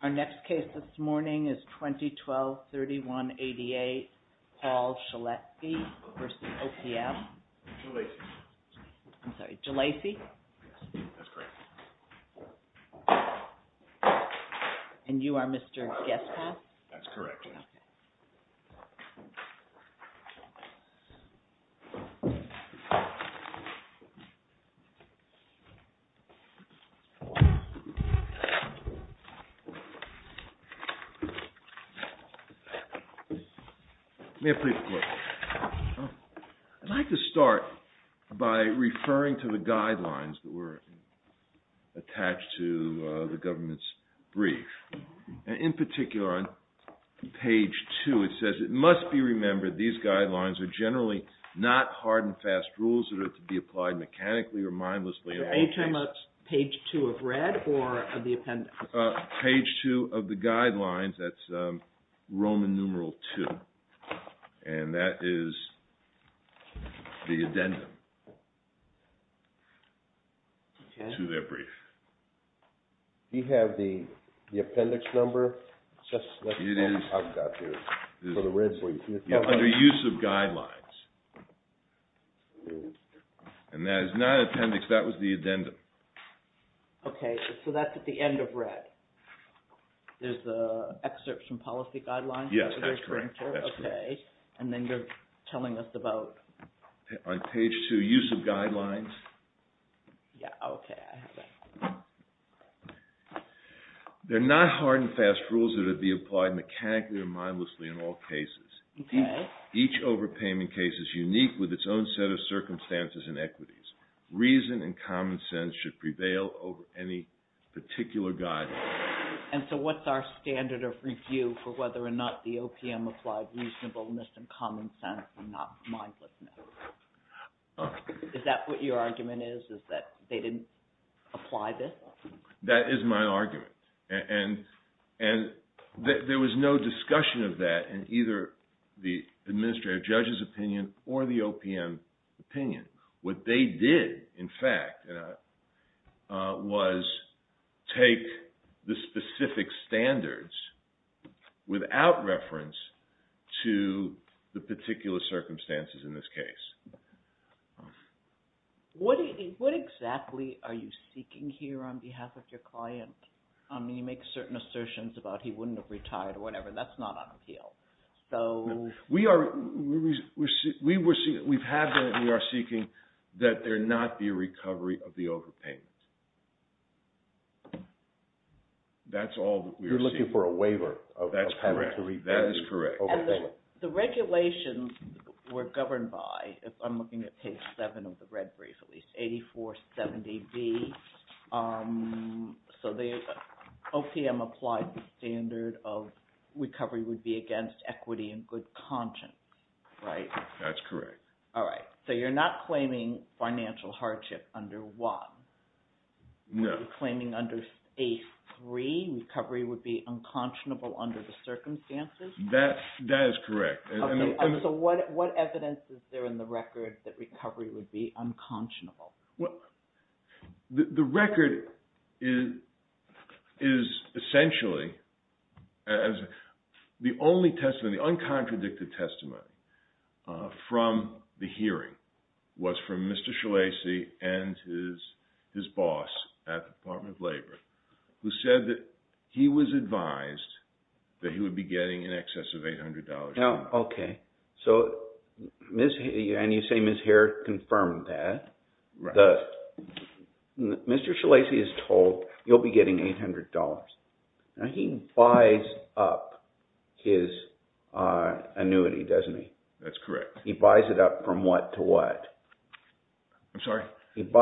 Our next case this morning is 2012-3188, Paul Schilleci v. OPM. Jelacy. I'm sorry, Jelacy? That's correct. And you are Mr. Guesthouse? That's correct. May I please have a look? I'd like to start by referring to the guidelines that were attached to the government's brief. In particular, on page two it says, It must be remembered these guidelines are generally not hard and fast rules that are to be applied mechanically or mindlessly. So page two of red or of the appendix? Page two of the guidelines, that's Roman numeral two, and that is the addendum to their brief. Do you have the appendix number? It is under use of guidelines. And that is not appendix, that was the addendum. Okay, so that's at the end of red. There's the excerpts from policy guidelines? Yes, that's correct. Okay, and then they're telling us about... On page two, use of guidelines. Yeah, okay, I have that. They're not hard and fast rules that are to be applied mechanically or mindlessly in all cases. Each overpayment case is unique with its own set of circumstances and equities. Reason and common sense should prevail over any particular guideline. And so what's our standard of review for whether or not the OPM applied reasonableness and common sense and not mindlessness? Is that what your argument is, is that they didn't apply this? That is my argument. And there was no discussion of that in either the administrative judge's opinion or the OPM opinion. What they did, in fact, was take the specific standards without reference to the particular circumstances in this case. What exactly are you seeking here on behalf of your client? You make certain assertions about he wouldn't have retired or whatever, that's not on appeal. We've had that and we are seeking that there not be a recovery of the overpayments. You're looking for a waiver. That is correct. The regulations were governed by, if I'm looking at page seven of the red brief, at least, 8470B. So the OPM applied the standard of recovery would be against equity and good conscience, right? That's correct. All right. So you're not claiming financial hardship under one? No. You're claiming under A3, recovery would be unconscionable under the circumstances? That is correct. So what evidence is there in the record that recovery would be unconscionable? The record is essentially, the only testimony, the uncontradicted testimony from the hearing was from Mr. Shalasi and his boss at the Department of Labor, who said that he was advised that he would be getting in excess of $800 an hour. Okay. And you say Ms. Hare confirmed that. Mr. Shalasi is told you'll be getting $800. He buys up his annuity, doesn't he? That's correct. He buys it up from what to what? I'm sorry? It's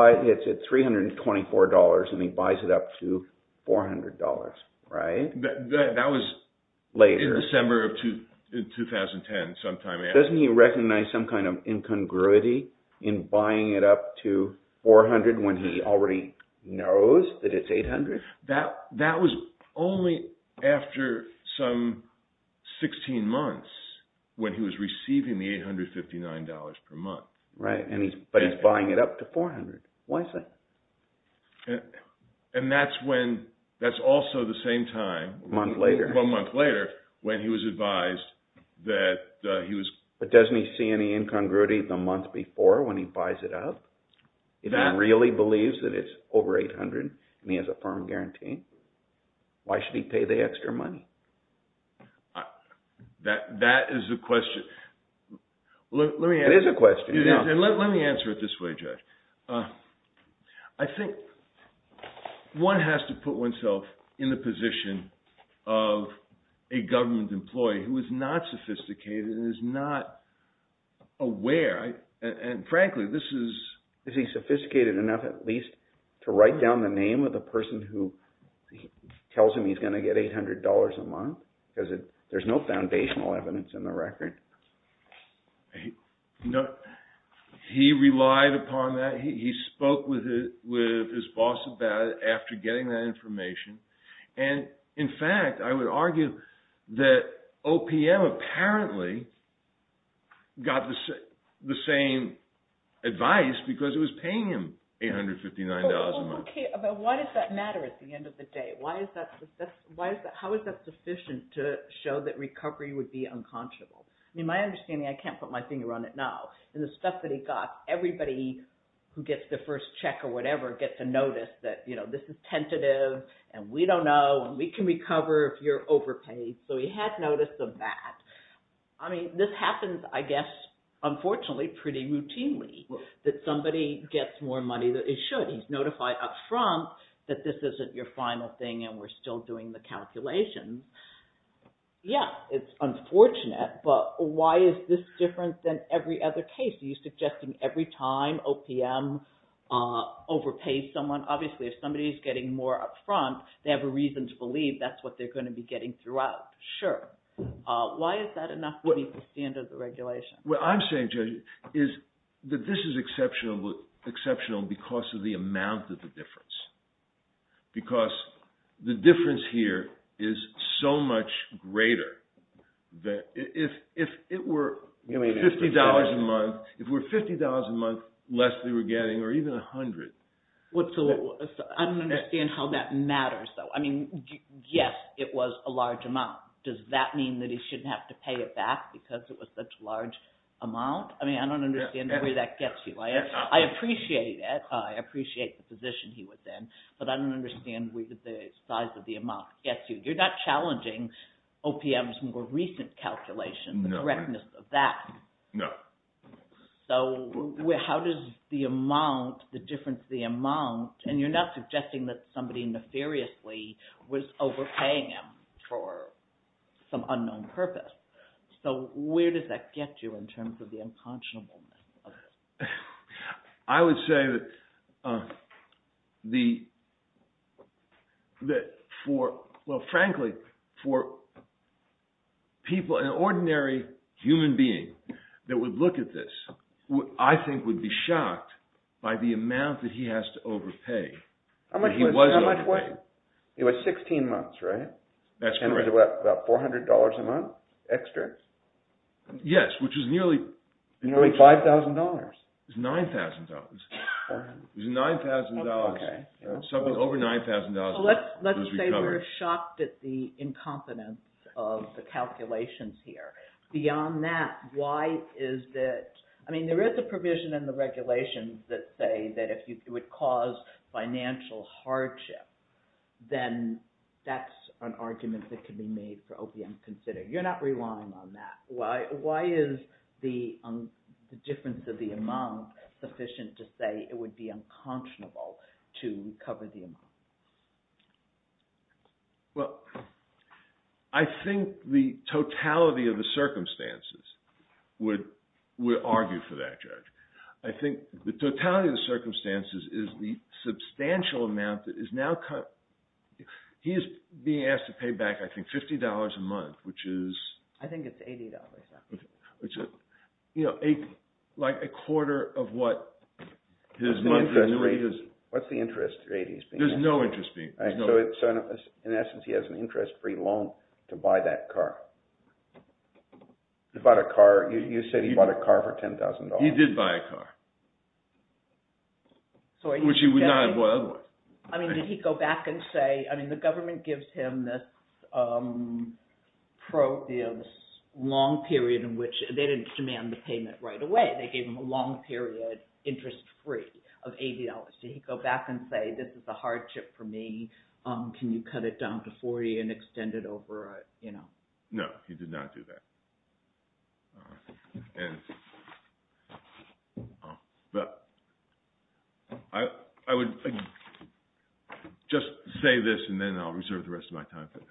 $324 and he buys it up to $400, right? That was in December of 2010 sometime after. Doesn't he recognize some kind of incongruity in buying it up to $400 when he already knows that it's $800? That was only after some 16 months when he was receiving the $859 per month. Right. But he's buying it up to $400. Why is that? And that's also the same time. A month later. A month later when he was advised that he was... But doesn't he see any incongruity the month before when he buys it up? If he really believes that it's over $800 and he has a firm guarantee, why should he pay the extra money? That is the question. It is a question. Let me answer it this way, Judge. I think one has to put oneself in the position of a government employee who is not sophisticated and is not aware. And frankly, this is... Is he sophisticated enough at least to write down the name of the person who tells him he's going to get $800 a month? Because there's no foundational evidence in the record. He relied upon that. He spoke with his boss about it after getting that information. And in fact, I would argue that OPM apparently got the same advice because it was paying him $859 a month. But why does that matter at the end of the day? How is that sufficient to show that recovery would be unconscionable? In my understanding, I can't put my finger on it now. And the stuff that he got, everybody who gets their first check or whatever gets a notice that this is tentative and we don't know and we can recover if you're overpaid. So he had notice of that. I mean this happens, I guess, unfortunately pretty routinely that somebody gets more money than they should. He's notified up front that this isn't your final thing and we're still doing the calculations. Yes, it's unfortunate. But why is this different than every other case? Are you suggesting every time OPM overpays someone, obviously if somebody is getting more up front, they have a reason to believe that's what they're going to be getting throughout. Sure. Why is that enough to be the standard of the regulation? What I'm saying, Judge, is that this is exceptional because of the amount of the difference. Because the difference here is so much greater. If it were $50 a month, if it were $50 a month less they were getting or even $100. I don't understand how that matters though. I mean, yes, it was a large amount. Does that mean that he shouldn't have to pay it back because it was such a large amount? I mean, I don't understand the way that gets you. I appreciate it. I appreciate the position he was in, but I don't understand where the size of the amount gets you. You're not challenging OPM's more recent calculation, the correctness of that. No. So how does the amount, the difference of the amount, and you're not suggesting that somebody nefariously was overpaying him for some unknown purpose. So where does that get you in terms of the unconscionable? I would say that for, well, frankly, for people, an ordinary human being that would look at this, I think would be shocked by the amount that he has to overpay. How much was it? It was 16 months, right? That's correct. And it was about $400 a month extra? Yes, which is nearly… Nearly $5,000. It was $9,000. It was $9,000. Something over $9,000 was recovered. Let's say we're shocked at the incompetence of the calculations here. Beyond that, why is it… I mean, there is a provision in the regulations that say that if it would cause financial hardship, then that's an argument that could be made for OPM to consider. You're not relying on that. Why is the difference of the amount sufficient to say it would be unconscionable to recover the amount? Well, I think the totality of the circumstances would argue for that, Judge. I think the totality of the circumstances is the substantial amount that is now… He is being asked to pay back, I think, $50 a month, which is… I think it's $80 now. Which is, you know, like a quarter of what his monthly… What's the interest rate he's paying? There's no interest rate. So, in essence, he has an interest-free loan to buy that car. He bought a car. You said he bought a car for $10,000. He did buy a car, which he would not have bought otherwise. I mean, did he go back and say… I mean, the government gives him this long period in which… They didn't demand the payment right away. They gave him a long period, interest-free, of $80. Did he go back and say, this is a hardship for me. Can you cut it down to $40 and extend it over… No, he did not do that. And… I would just say this, and then I'll reserve the rest of my time for that.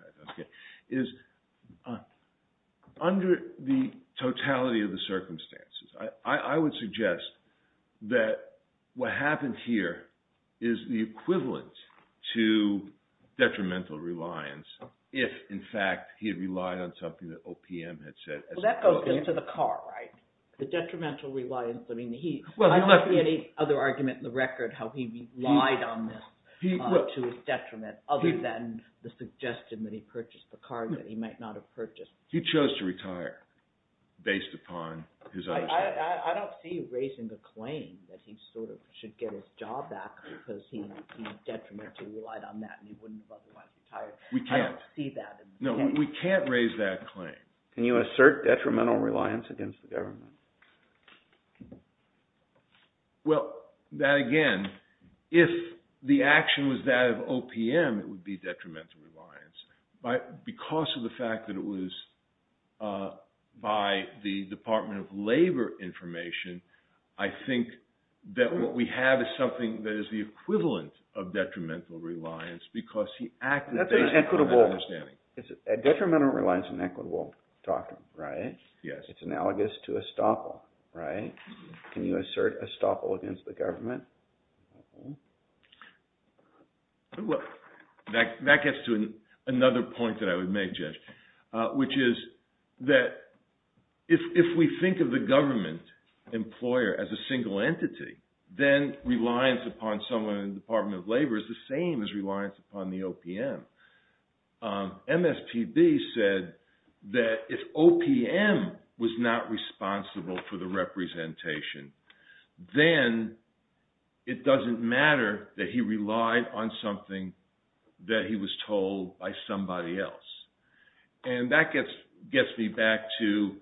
Under the totality of the circumstances, I would suggest that what happened here is the equivalent to detrimental reliance if, in fact, he had relied on something that OPM had said… Well, that goes into the car, right? The detrimental reliance. I don't see any other argument in the record how he relied on this to his detriment other than the suggestion that he purchased the car that he might not have purchased. He chose to retire based upon his understanding. I don't see you raising a claim that he sort of should get his job back because he detrimentally relied on that and he wouldn't have otherwise retired. I don't see that. No, we can't raise that claim. Can you assert detrimental reliance against the government? Well, that again, if the action was that of OPM, it would be detrimental reliance. Because of the fact that it was by the Department of Labor information, I think that what we have is something that is the equivalent of detrimental reliance because he acted based upon that understanding. Detrimental reliance is an equitable doctrine, right? Yes. It's analogous to estoppel, right? Can you assert estoppel against the government? That gets to another point that I would make, Jeff, which is that if we think of the government employer as a single entity, then reliance upon someone in the Department of Labor is the same as reliance upon the OPM. MSPB said that if OPM was not responsible for the representation, then it doesn't matter that he relied on something that he was told by somebody else. And that gets me back to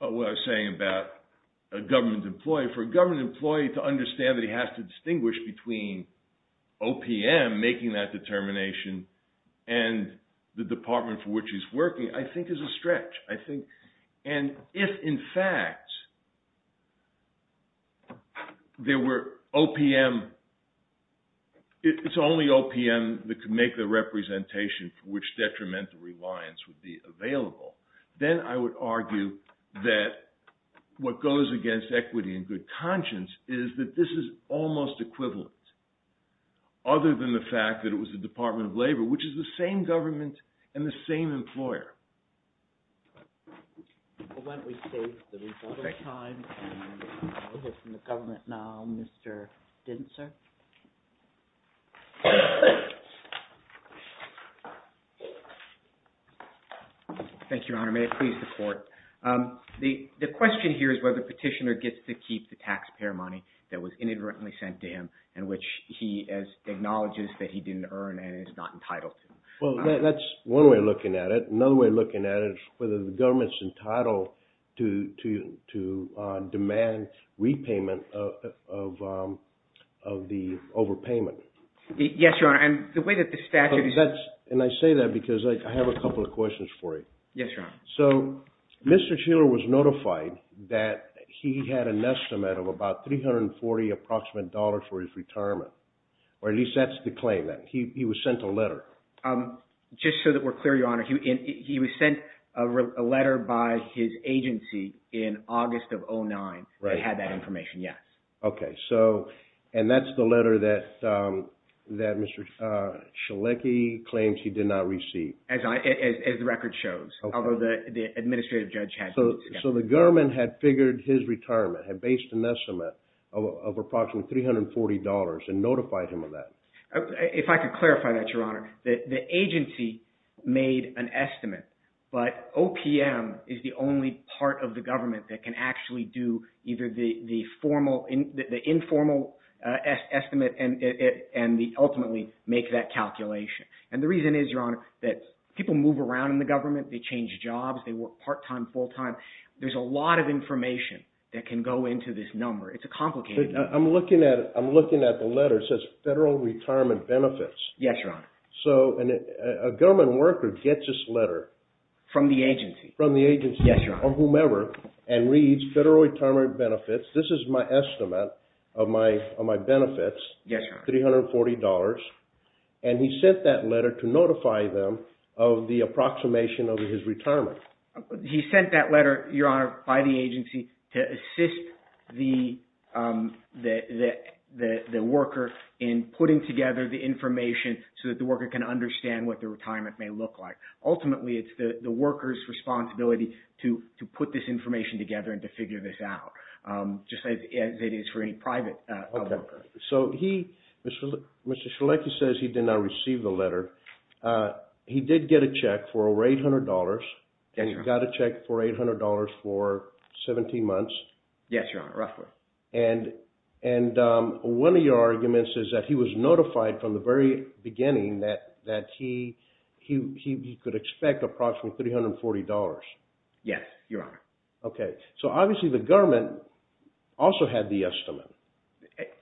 what I was saying about a government employee. For a government employee to understand that he has to distinguish between OPM making that determination and the department for which he's working, I think, is a stretch. And if, in fact, there were OPM, it's only OPM that could make the representation for which detrimental reliance would be available, then I would argue that what goes against equity and good conscience is that this is almost equivalent, other than the fact that it was the Department of Labor, which is the same government and the same employer. Well, why don't we save the rebuttal time and move it from the government now, Mr. Dintzer? Thank you, Your Honor. May it please the Court. The question here is whether the petitioner gets to keep the taxpayer money that was inadvertently sent to him and which he acknowledges that he didn't earn and is not entitled to. Well, that's one way of looking at it. Another way of looking at it is whether the government's entitled to demand repayment of the overpayment. Yes, Your Honor. And the way that the statute is— And I say that because I have a couple of questions for you. Yes, Your Honor. So Mr. Sheeler was notified that he had an estimate of about $340 approximate for his retirement, or at least that's the claim, that he was sent a letter. Just so that we're clear, Your Honor, he was sent a letter by his agency in August of 2009 that had that information, yes. Okay. And that's the letter that Mr. Schelecki claims he did not receive? As the record shows, although the administrative judge has it. So the government had figured his retirement had based an estimate of approximately $340 and notified him of that. If I could clarify that, Your Honor, the agency made an estimate, but OPM is the only part of the government that can actually do either the informal estimate and ultimately make that calculation. And the reason is, Your Honor, that people move around in the government. They change jobs. They work part-time, full-time. There's a lot of information that can go into this number. It's a complicated— I'm looking at the letter. It says Federal Retirement Benefits. Yes, Your Honor. So a government worker gets this letter— From the agency. From the agency. Yes, Your Honor. Or whomever, and reads Federal Retirement Benefits. This is my estimate of my benefits. Yes, Your Honor. $340. And he sent that letter to notify them of the approximation of his retirement. He sent that letter, Your Honor, by the agency to assist the worker in putting together the information so that the worker can understand what the retirement may look like. Ultimately, it's the worker's responsibility to put this information together and to figure this out, just as it is for any private worker. Mr. Schelecki says he did not receive the letter. He did get a check for $800. Yes, Your Honor. He got a check for $800 for 17 months. Yes, Your Honor, roughly. And one of your arguments is that he was notified from the very beginning that he could expect approximately $340. Yes, Your Honor. Okay. So obviously the government also had the estimate.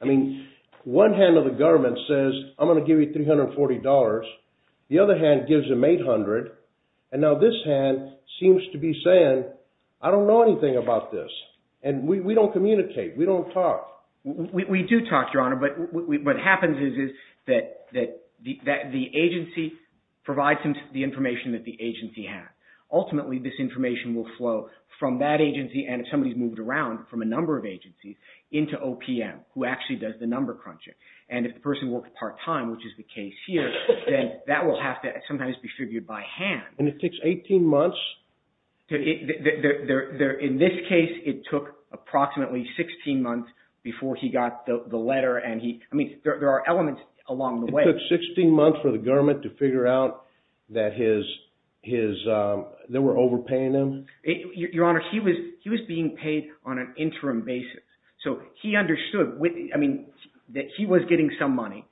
I mean, one hand of the government says, I'm going to give you $340. The other hand gives him $800. And now this hand seems to be saying, I don't know anything about this. And we don't communicate. We don't talk. We do talk, Your Honor. But what happens is that the agency provides him the information that the agency has. Ultimately, this information will flow from that agency, and if somebody's moved around, from a number of agencies into OPM, who actually does the number crunching. And if the person works part-time, which is the case here, then that will have to sometimes be figured by hand. And it takes 18 months? In this case, it took approximately 16 months before he got the letter. I mean, there are elements along the way. It took 16 months for the government to figure out that they were overpaying him? Your Honor, he was being paid on an interim basis. So he understood that he was getting some money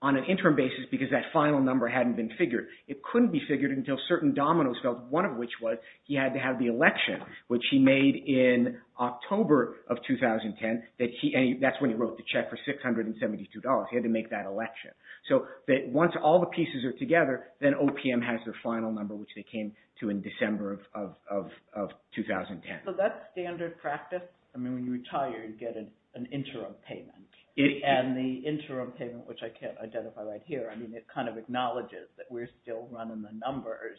on an interim basis because that final number hadn't been figured. It couldn't be figured until certain dominoes fell, one of which was he had to have the election, which he made in October of 2010. And that's when he wrote the check for $672. He had to make that election. So once all the pieces are together, then OPM has their final number, which they came to in December of 2010. So that's standard practice? I mean, when you retire, you get an interim payment. And the interim payment, which I can't identify right here, I mean, it kind of acknowledges that we're still running the numbers.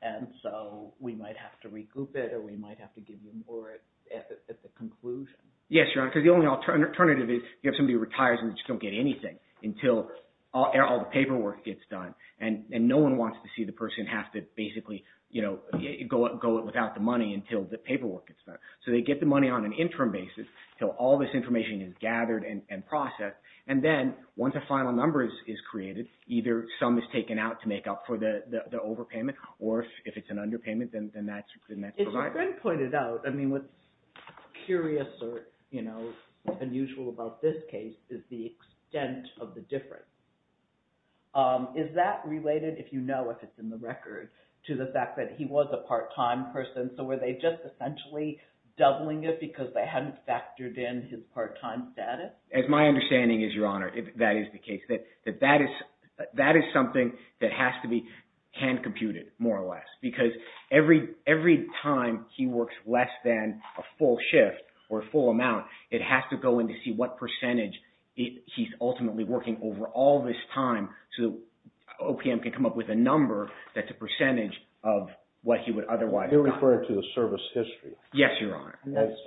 And so we might have to regroup it, or we might have to give you more at the conclusion. Yes, Your Honor, because the only alternative is you have somebody who retires and they just don't get anything until all the paperwork gets done. And no one wants to see the person have to basically go without the money until the paperwork gets done. So they get the money on an interim basis until all this information is gathered and processed. And then once a final number is created, either some is taken out to make up for the overpayment, or if it's an underpayment, then that's provided. And as Margaret pointed out, I mean, what's curious or unusual about this case is the extent of the difference. Is that related, if you know if it's in the record, to the fact that he was a part-time person? So were they just essentially doubling it because they hadn't factored in his part-time status? As my understanding is, Your Honor, that is the case, that that is something that has to be hand-computed, more or less. Because every time he works less than a full shift or a full amount, it has to go into see what percentage he's ultimately working over all this time. So OPM can come up with a number that's a percentage of what he would otherwise not. You're referring to the service history? Yes, Your Honor.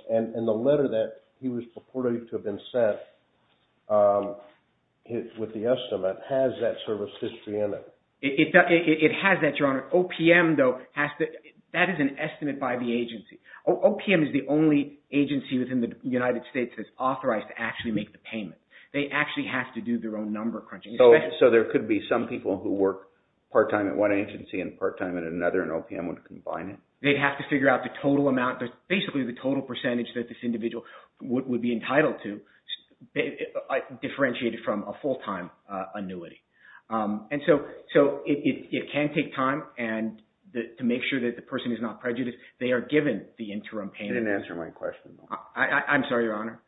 And the letter that he was purported to have been sent with the estimate, has that service history in it? It has that, Your Honor. OPM, though, that is an estimate by the agency. OPM is the only agency within the United States that's authorized to actually make the payment. They actually have to do their own number crunching. So there could be some people who work part-time at one agency and part-time at another, and OPM would combine it? They'd have to figure out the total amount, basically the total percentage that this individual would be entitled to, differentiated from a full-time annuity. And so it can take time, and to make sure that the person is not prejudiced, they are given the interim payment. You didn't answer my question, though. I'm sorry, Your Honor.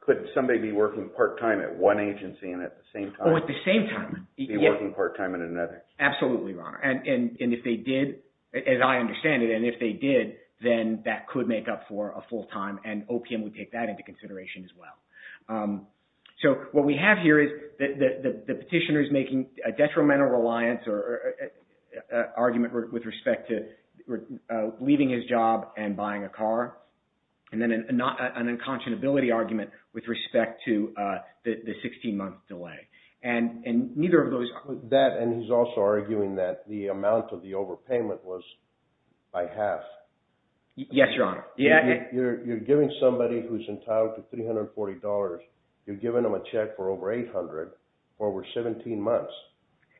Could somebody be working part-time at one agency and at the same time be working part-time at another? Absolutely, Your Honor. And if they did, as I understand it, and if they did, then that could make up for a full-time, and OPM would take that into consideration as well. So what we have here is the petitioner is making a detrimental reliance argument with respect to leaving his job and buying a car, and then an unconscionability argument with respect to the 16-month delay. And neither of those... That, and he's also arguing that the amount of the overpayment was by half. Yes, Your Honor. You're giving somebody who's entitled to $340, you're giving them a check for over $800 for over 17 months.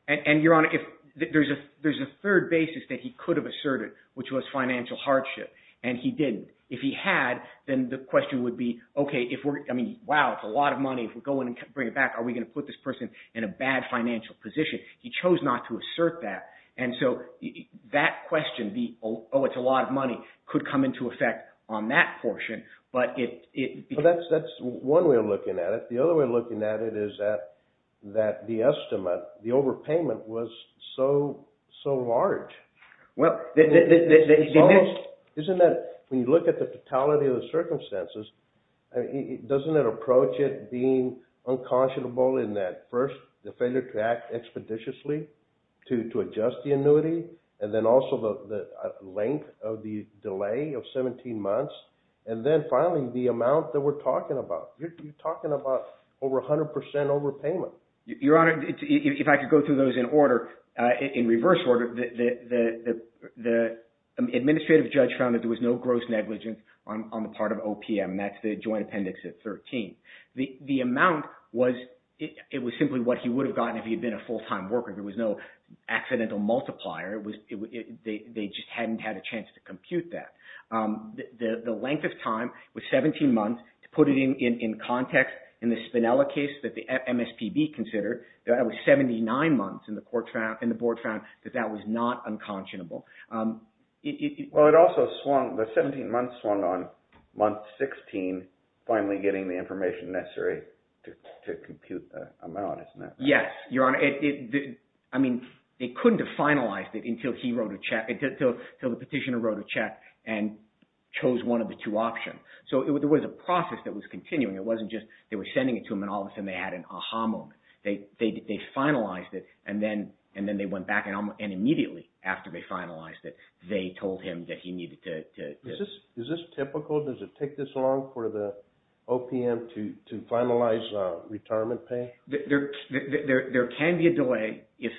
And, Your Honor, there's a third basis that he could have asserted, which was financial hardship, and he didn't. If he had, then the question would be, okay, if we're, I mean, wow, it's a lot of money. If we go in and bring it back, are we going to put this person in a bad financial position? He chose not to assert that, and so that question, the, oh, it's a lot of money, could come into effect on that portion, but it... That's one way of looking at it. The other way of looking at it is that the estimate, the overpayment was so large. Well, the... to adjust the annuity, and then also the length of the delay of 17 months, and then finally the amount that we're talking about. You're talking about over 100% overpayment. Your Honor, if I could go through those in order, in reverse order, the administrative judge found that there was no gross negligence on the part of OPM. That's the joint appendix at 13. The amount was, it was simply what he would have gotten if he had been a full-time worker. There was no accidental multiplier. It was, they just hadn't had a chance to compute that. The length of time was 17 months. To put it in context, in the Spinella case that the MSPB considered, that was 79 months, and the court found, and the board found that that was not unconscionable. Well, it also swung, the 17 months swung on month 16, finally getting the information necessary to compute the amount, isn't that right? Yes, Your Honor. I mean, they couldn't have finalized it until he wrote a check, until the petitioner wrote a check and chose one of the two options. So there was a process that was continuing. It wasn't just they were sending it to him, and all of a sudden they had an aha moment. They finalized it, and then they went back, and immediately after they finalized it, they told him that he needed to… Is this typical? Does it take this long for the OPM to finalize retirement pay? There can be a delay if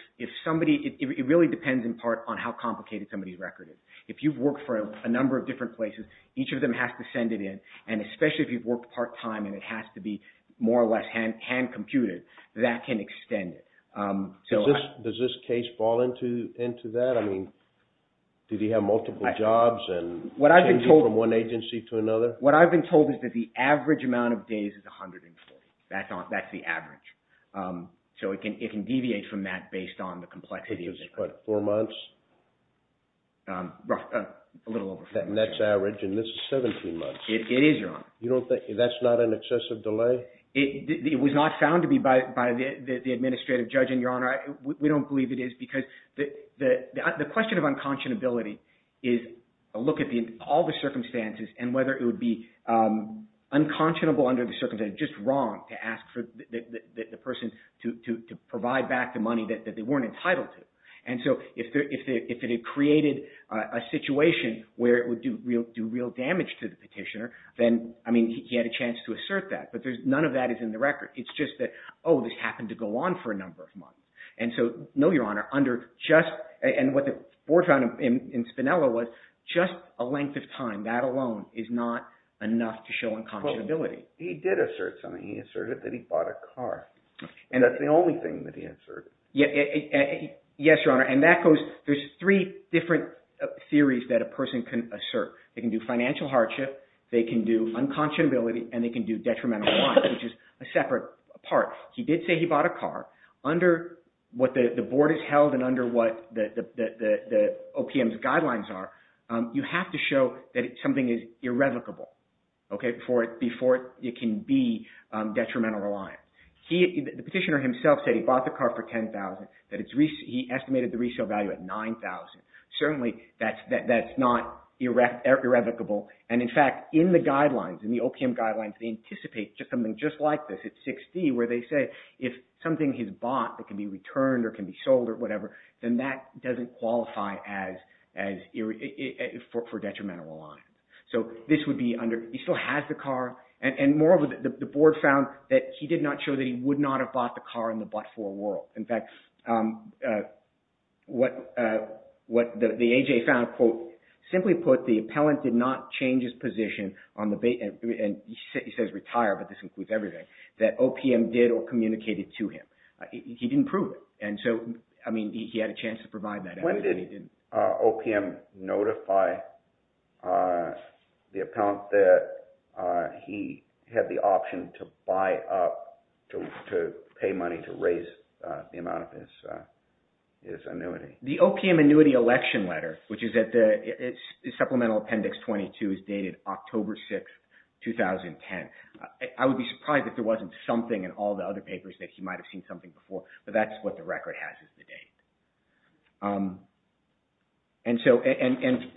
somebody, it really depends in part on how complicated somebody's record is. If you've worked for a number of different places, each of them has to send it in, and especially if you've worked part-time and it has to be more or less hand-computed, that can extend it. Does this case fall into that? I mean, did he have multiple jobs and changing from one agency to another? What I've been told is that the average amount of days is 140. That's the average. So it can deviate from that based on the complexity of the record. So this is, what, four months? A little over four months. And that's average, and this is 17 months. It is, Your Honor. That's not an excessive delay? It was not found to be by the administrative judge, and, Your Honor, we don't believe it is because the question of unconscionability is a look at all the circumstances and whether it would be unconscionable under the circumstances, just wrong, to ask the person to provide back the money that they weren't entitled to. And so if it had created a situation where it would do real damage to the petitioner, then, I mean, he had a chance to assert that, but none of that is in the record. It's just that, oh, this happened to go on for a number of months. And so, no, Your Honor, under just – and what the board found in Spinella was just a length of time. That alone is not enough to show unconscionability. He did assert something. He asserted that he bought a car, and that's the only thing that he asserted. Yes, Your Honor, and that goes – there's three different theories that a person can assert. They can do financial hardship. They can do unconscionability, and they can do detrimental reliance, which is a separate part. He did say he bought a car. Under what the board has held and under what the OPM's guidelines are, you have to show that something is irrevocable before it can be detrimental reliance. The petitioner himself said he bought the car for $10,000. He estimated the resale value at $9,000. Certainly, that's not irrevocable, and, in fact, in the guidelines, in the OPM guidelines, they anticipate something just like this at $60,000 where they say if something he's bought that can be returned or can be sold or whatever, then that doesn't qualify as – for detrimental reliance. He still has the car, and moreover, the board found that he did not show that he would not have bought the car in the but-for world. In fact, what the AJ found, quote, simply put, the appellant did not change his position on the – and he says retire, but this includes everything – that OPM did or communicated to him. He didn't prove it, and so, I mean, he had a chance to provide that evidence, but he didn't. Did OPM notify the appellant that he had the option to buy up – to pay money to raise the amount of his annuity? The OPM annuity election letter, which is at the Supplemental Appendix 22, is dated October 6, 2010. I would be surprised if there wasn't something in all the other papers that he might have seen something before, but that's what the record has is the date. And so –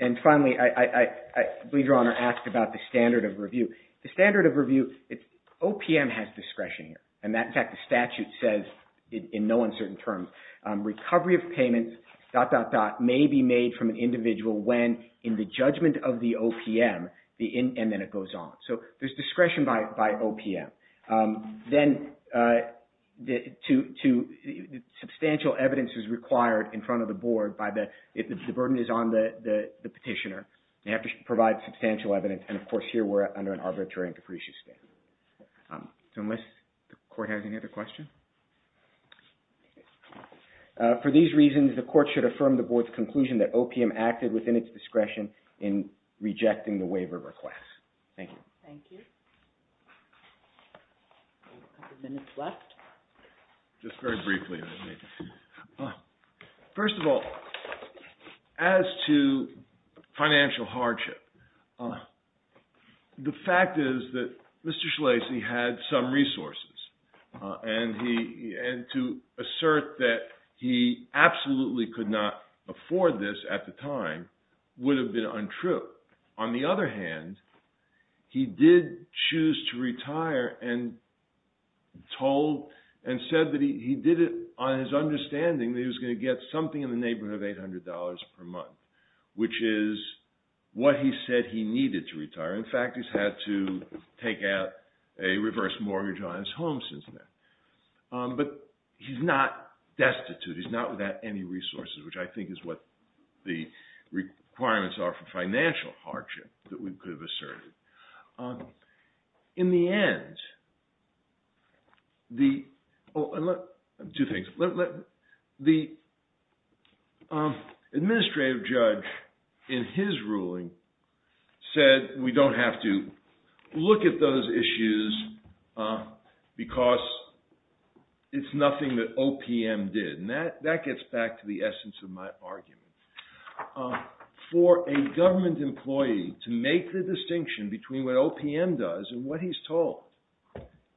and finally, I believe Your Honor asked about the standard of review. The standard of review, OPM has discretion here, and that – in fact, the statute says in no uncertain terms, recovery of payments, dot, dot, dot, may be made from an individual when in the judgment of the OPM, and then it goes on. So, there's discretion by OPM. Then to – substantial evidence is required in front of the Board by the – if the burden is on the petitioner, they have to provide substantial evidence, and of course, here we're under an arbitrary and capricious stand. So, unless the Court has any other questions? For these reasons, the Court should affirm the Board's conclusion that OPM acted within its discretion in rejecting the waiver request. Thank you. Thank you. A couple of minutes left. Just very briefly. First of all, as to financial hardship, the fact is that Mr. Schlaese had some resources, and he – and to assert that he absolutely could not afford this at the time would have been untrue. But on the other hand, he did choose to retire and told – and said that he did it on his understanding that he was going to get something in the neighborhood of $800 per month, which is what he said he needed to retire. In fact, he's had to take out a reverse mortgage on his home since then. But he's not destitute. He's not without any resources, which I think is what the requirements are for financial hardship that we could have asserted. In the end, the – two things. The administrative judge in his ruling said we don't have to look at those issues because it's nothing that OPM did. And that gets back to the essence of my argument. For a government employee to make the distinction between what OPM does and what he's told –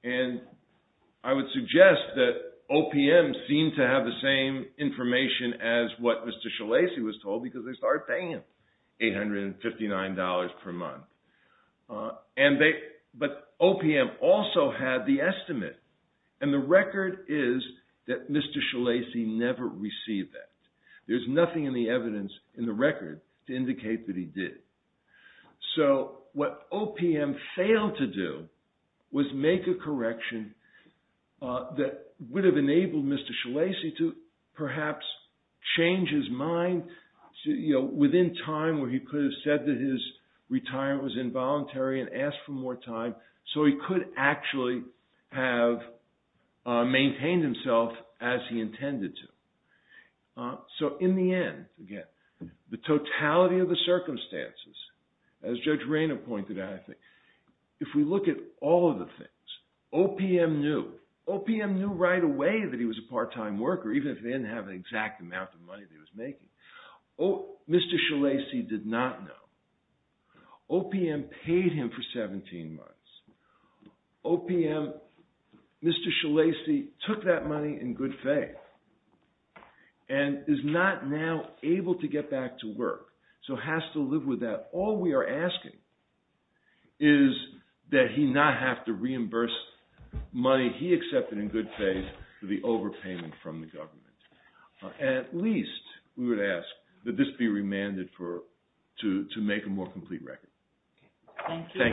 and I would suggest that OPM seemed to have the same information as what Mr. Schlaese was told because they started paying him $859 per month. And they – but OPM also had the estimate, and the record is that Mr. Schlaese never received that. There's nothing in the evidence in the record to indicate that he did. So what OPM failed to do was make a correction that would have enabled Mr. Schlaese to perhaps change his mind within time where he could have said that his retirement was involuntary and asked for more time so he could actually have maintained himself as he intended to. So in the end, again, the totality of the circumstances, as Judge Rayner pointed out, if we look at all of the things, OPM knew. OPM knew right away that he was a part-time worker even if they didn't have an exact amount of money that he was making. Mr. Schlaese did not know. OPM paid him for 17 months. OPM – Mr. Schlaese took that money in good faith. And is not now able to get back to work, so has to live with that. All we are asking is that he not have to reimburse money he accepted in good faith for the overpayment from the government. At least we would ask that this be remanded for – to make a more complete record. Thank you.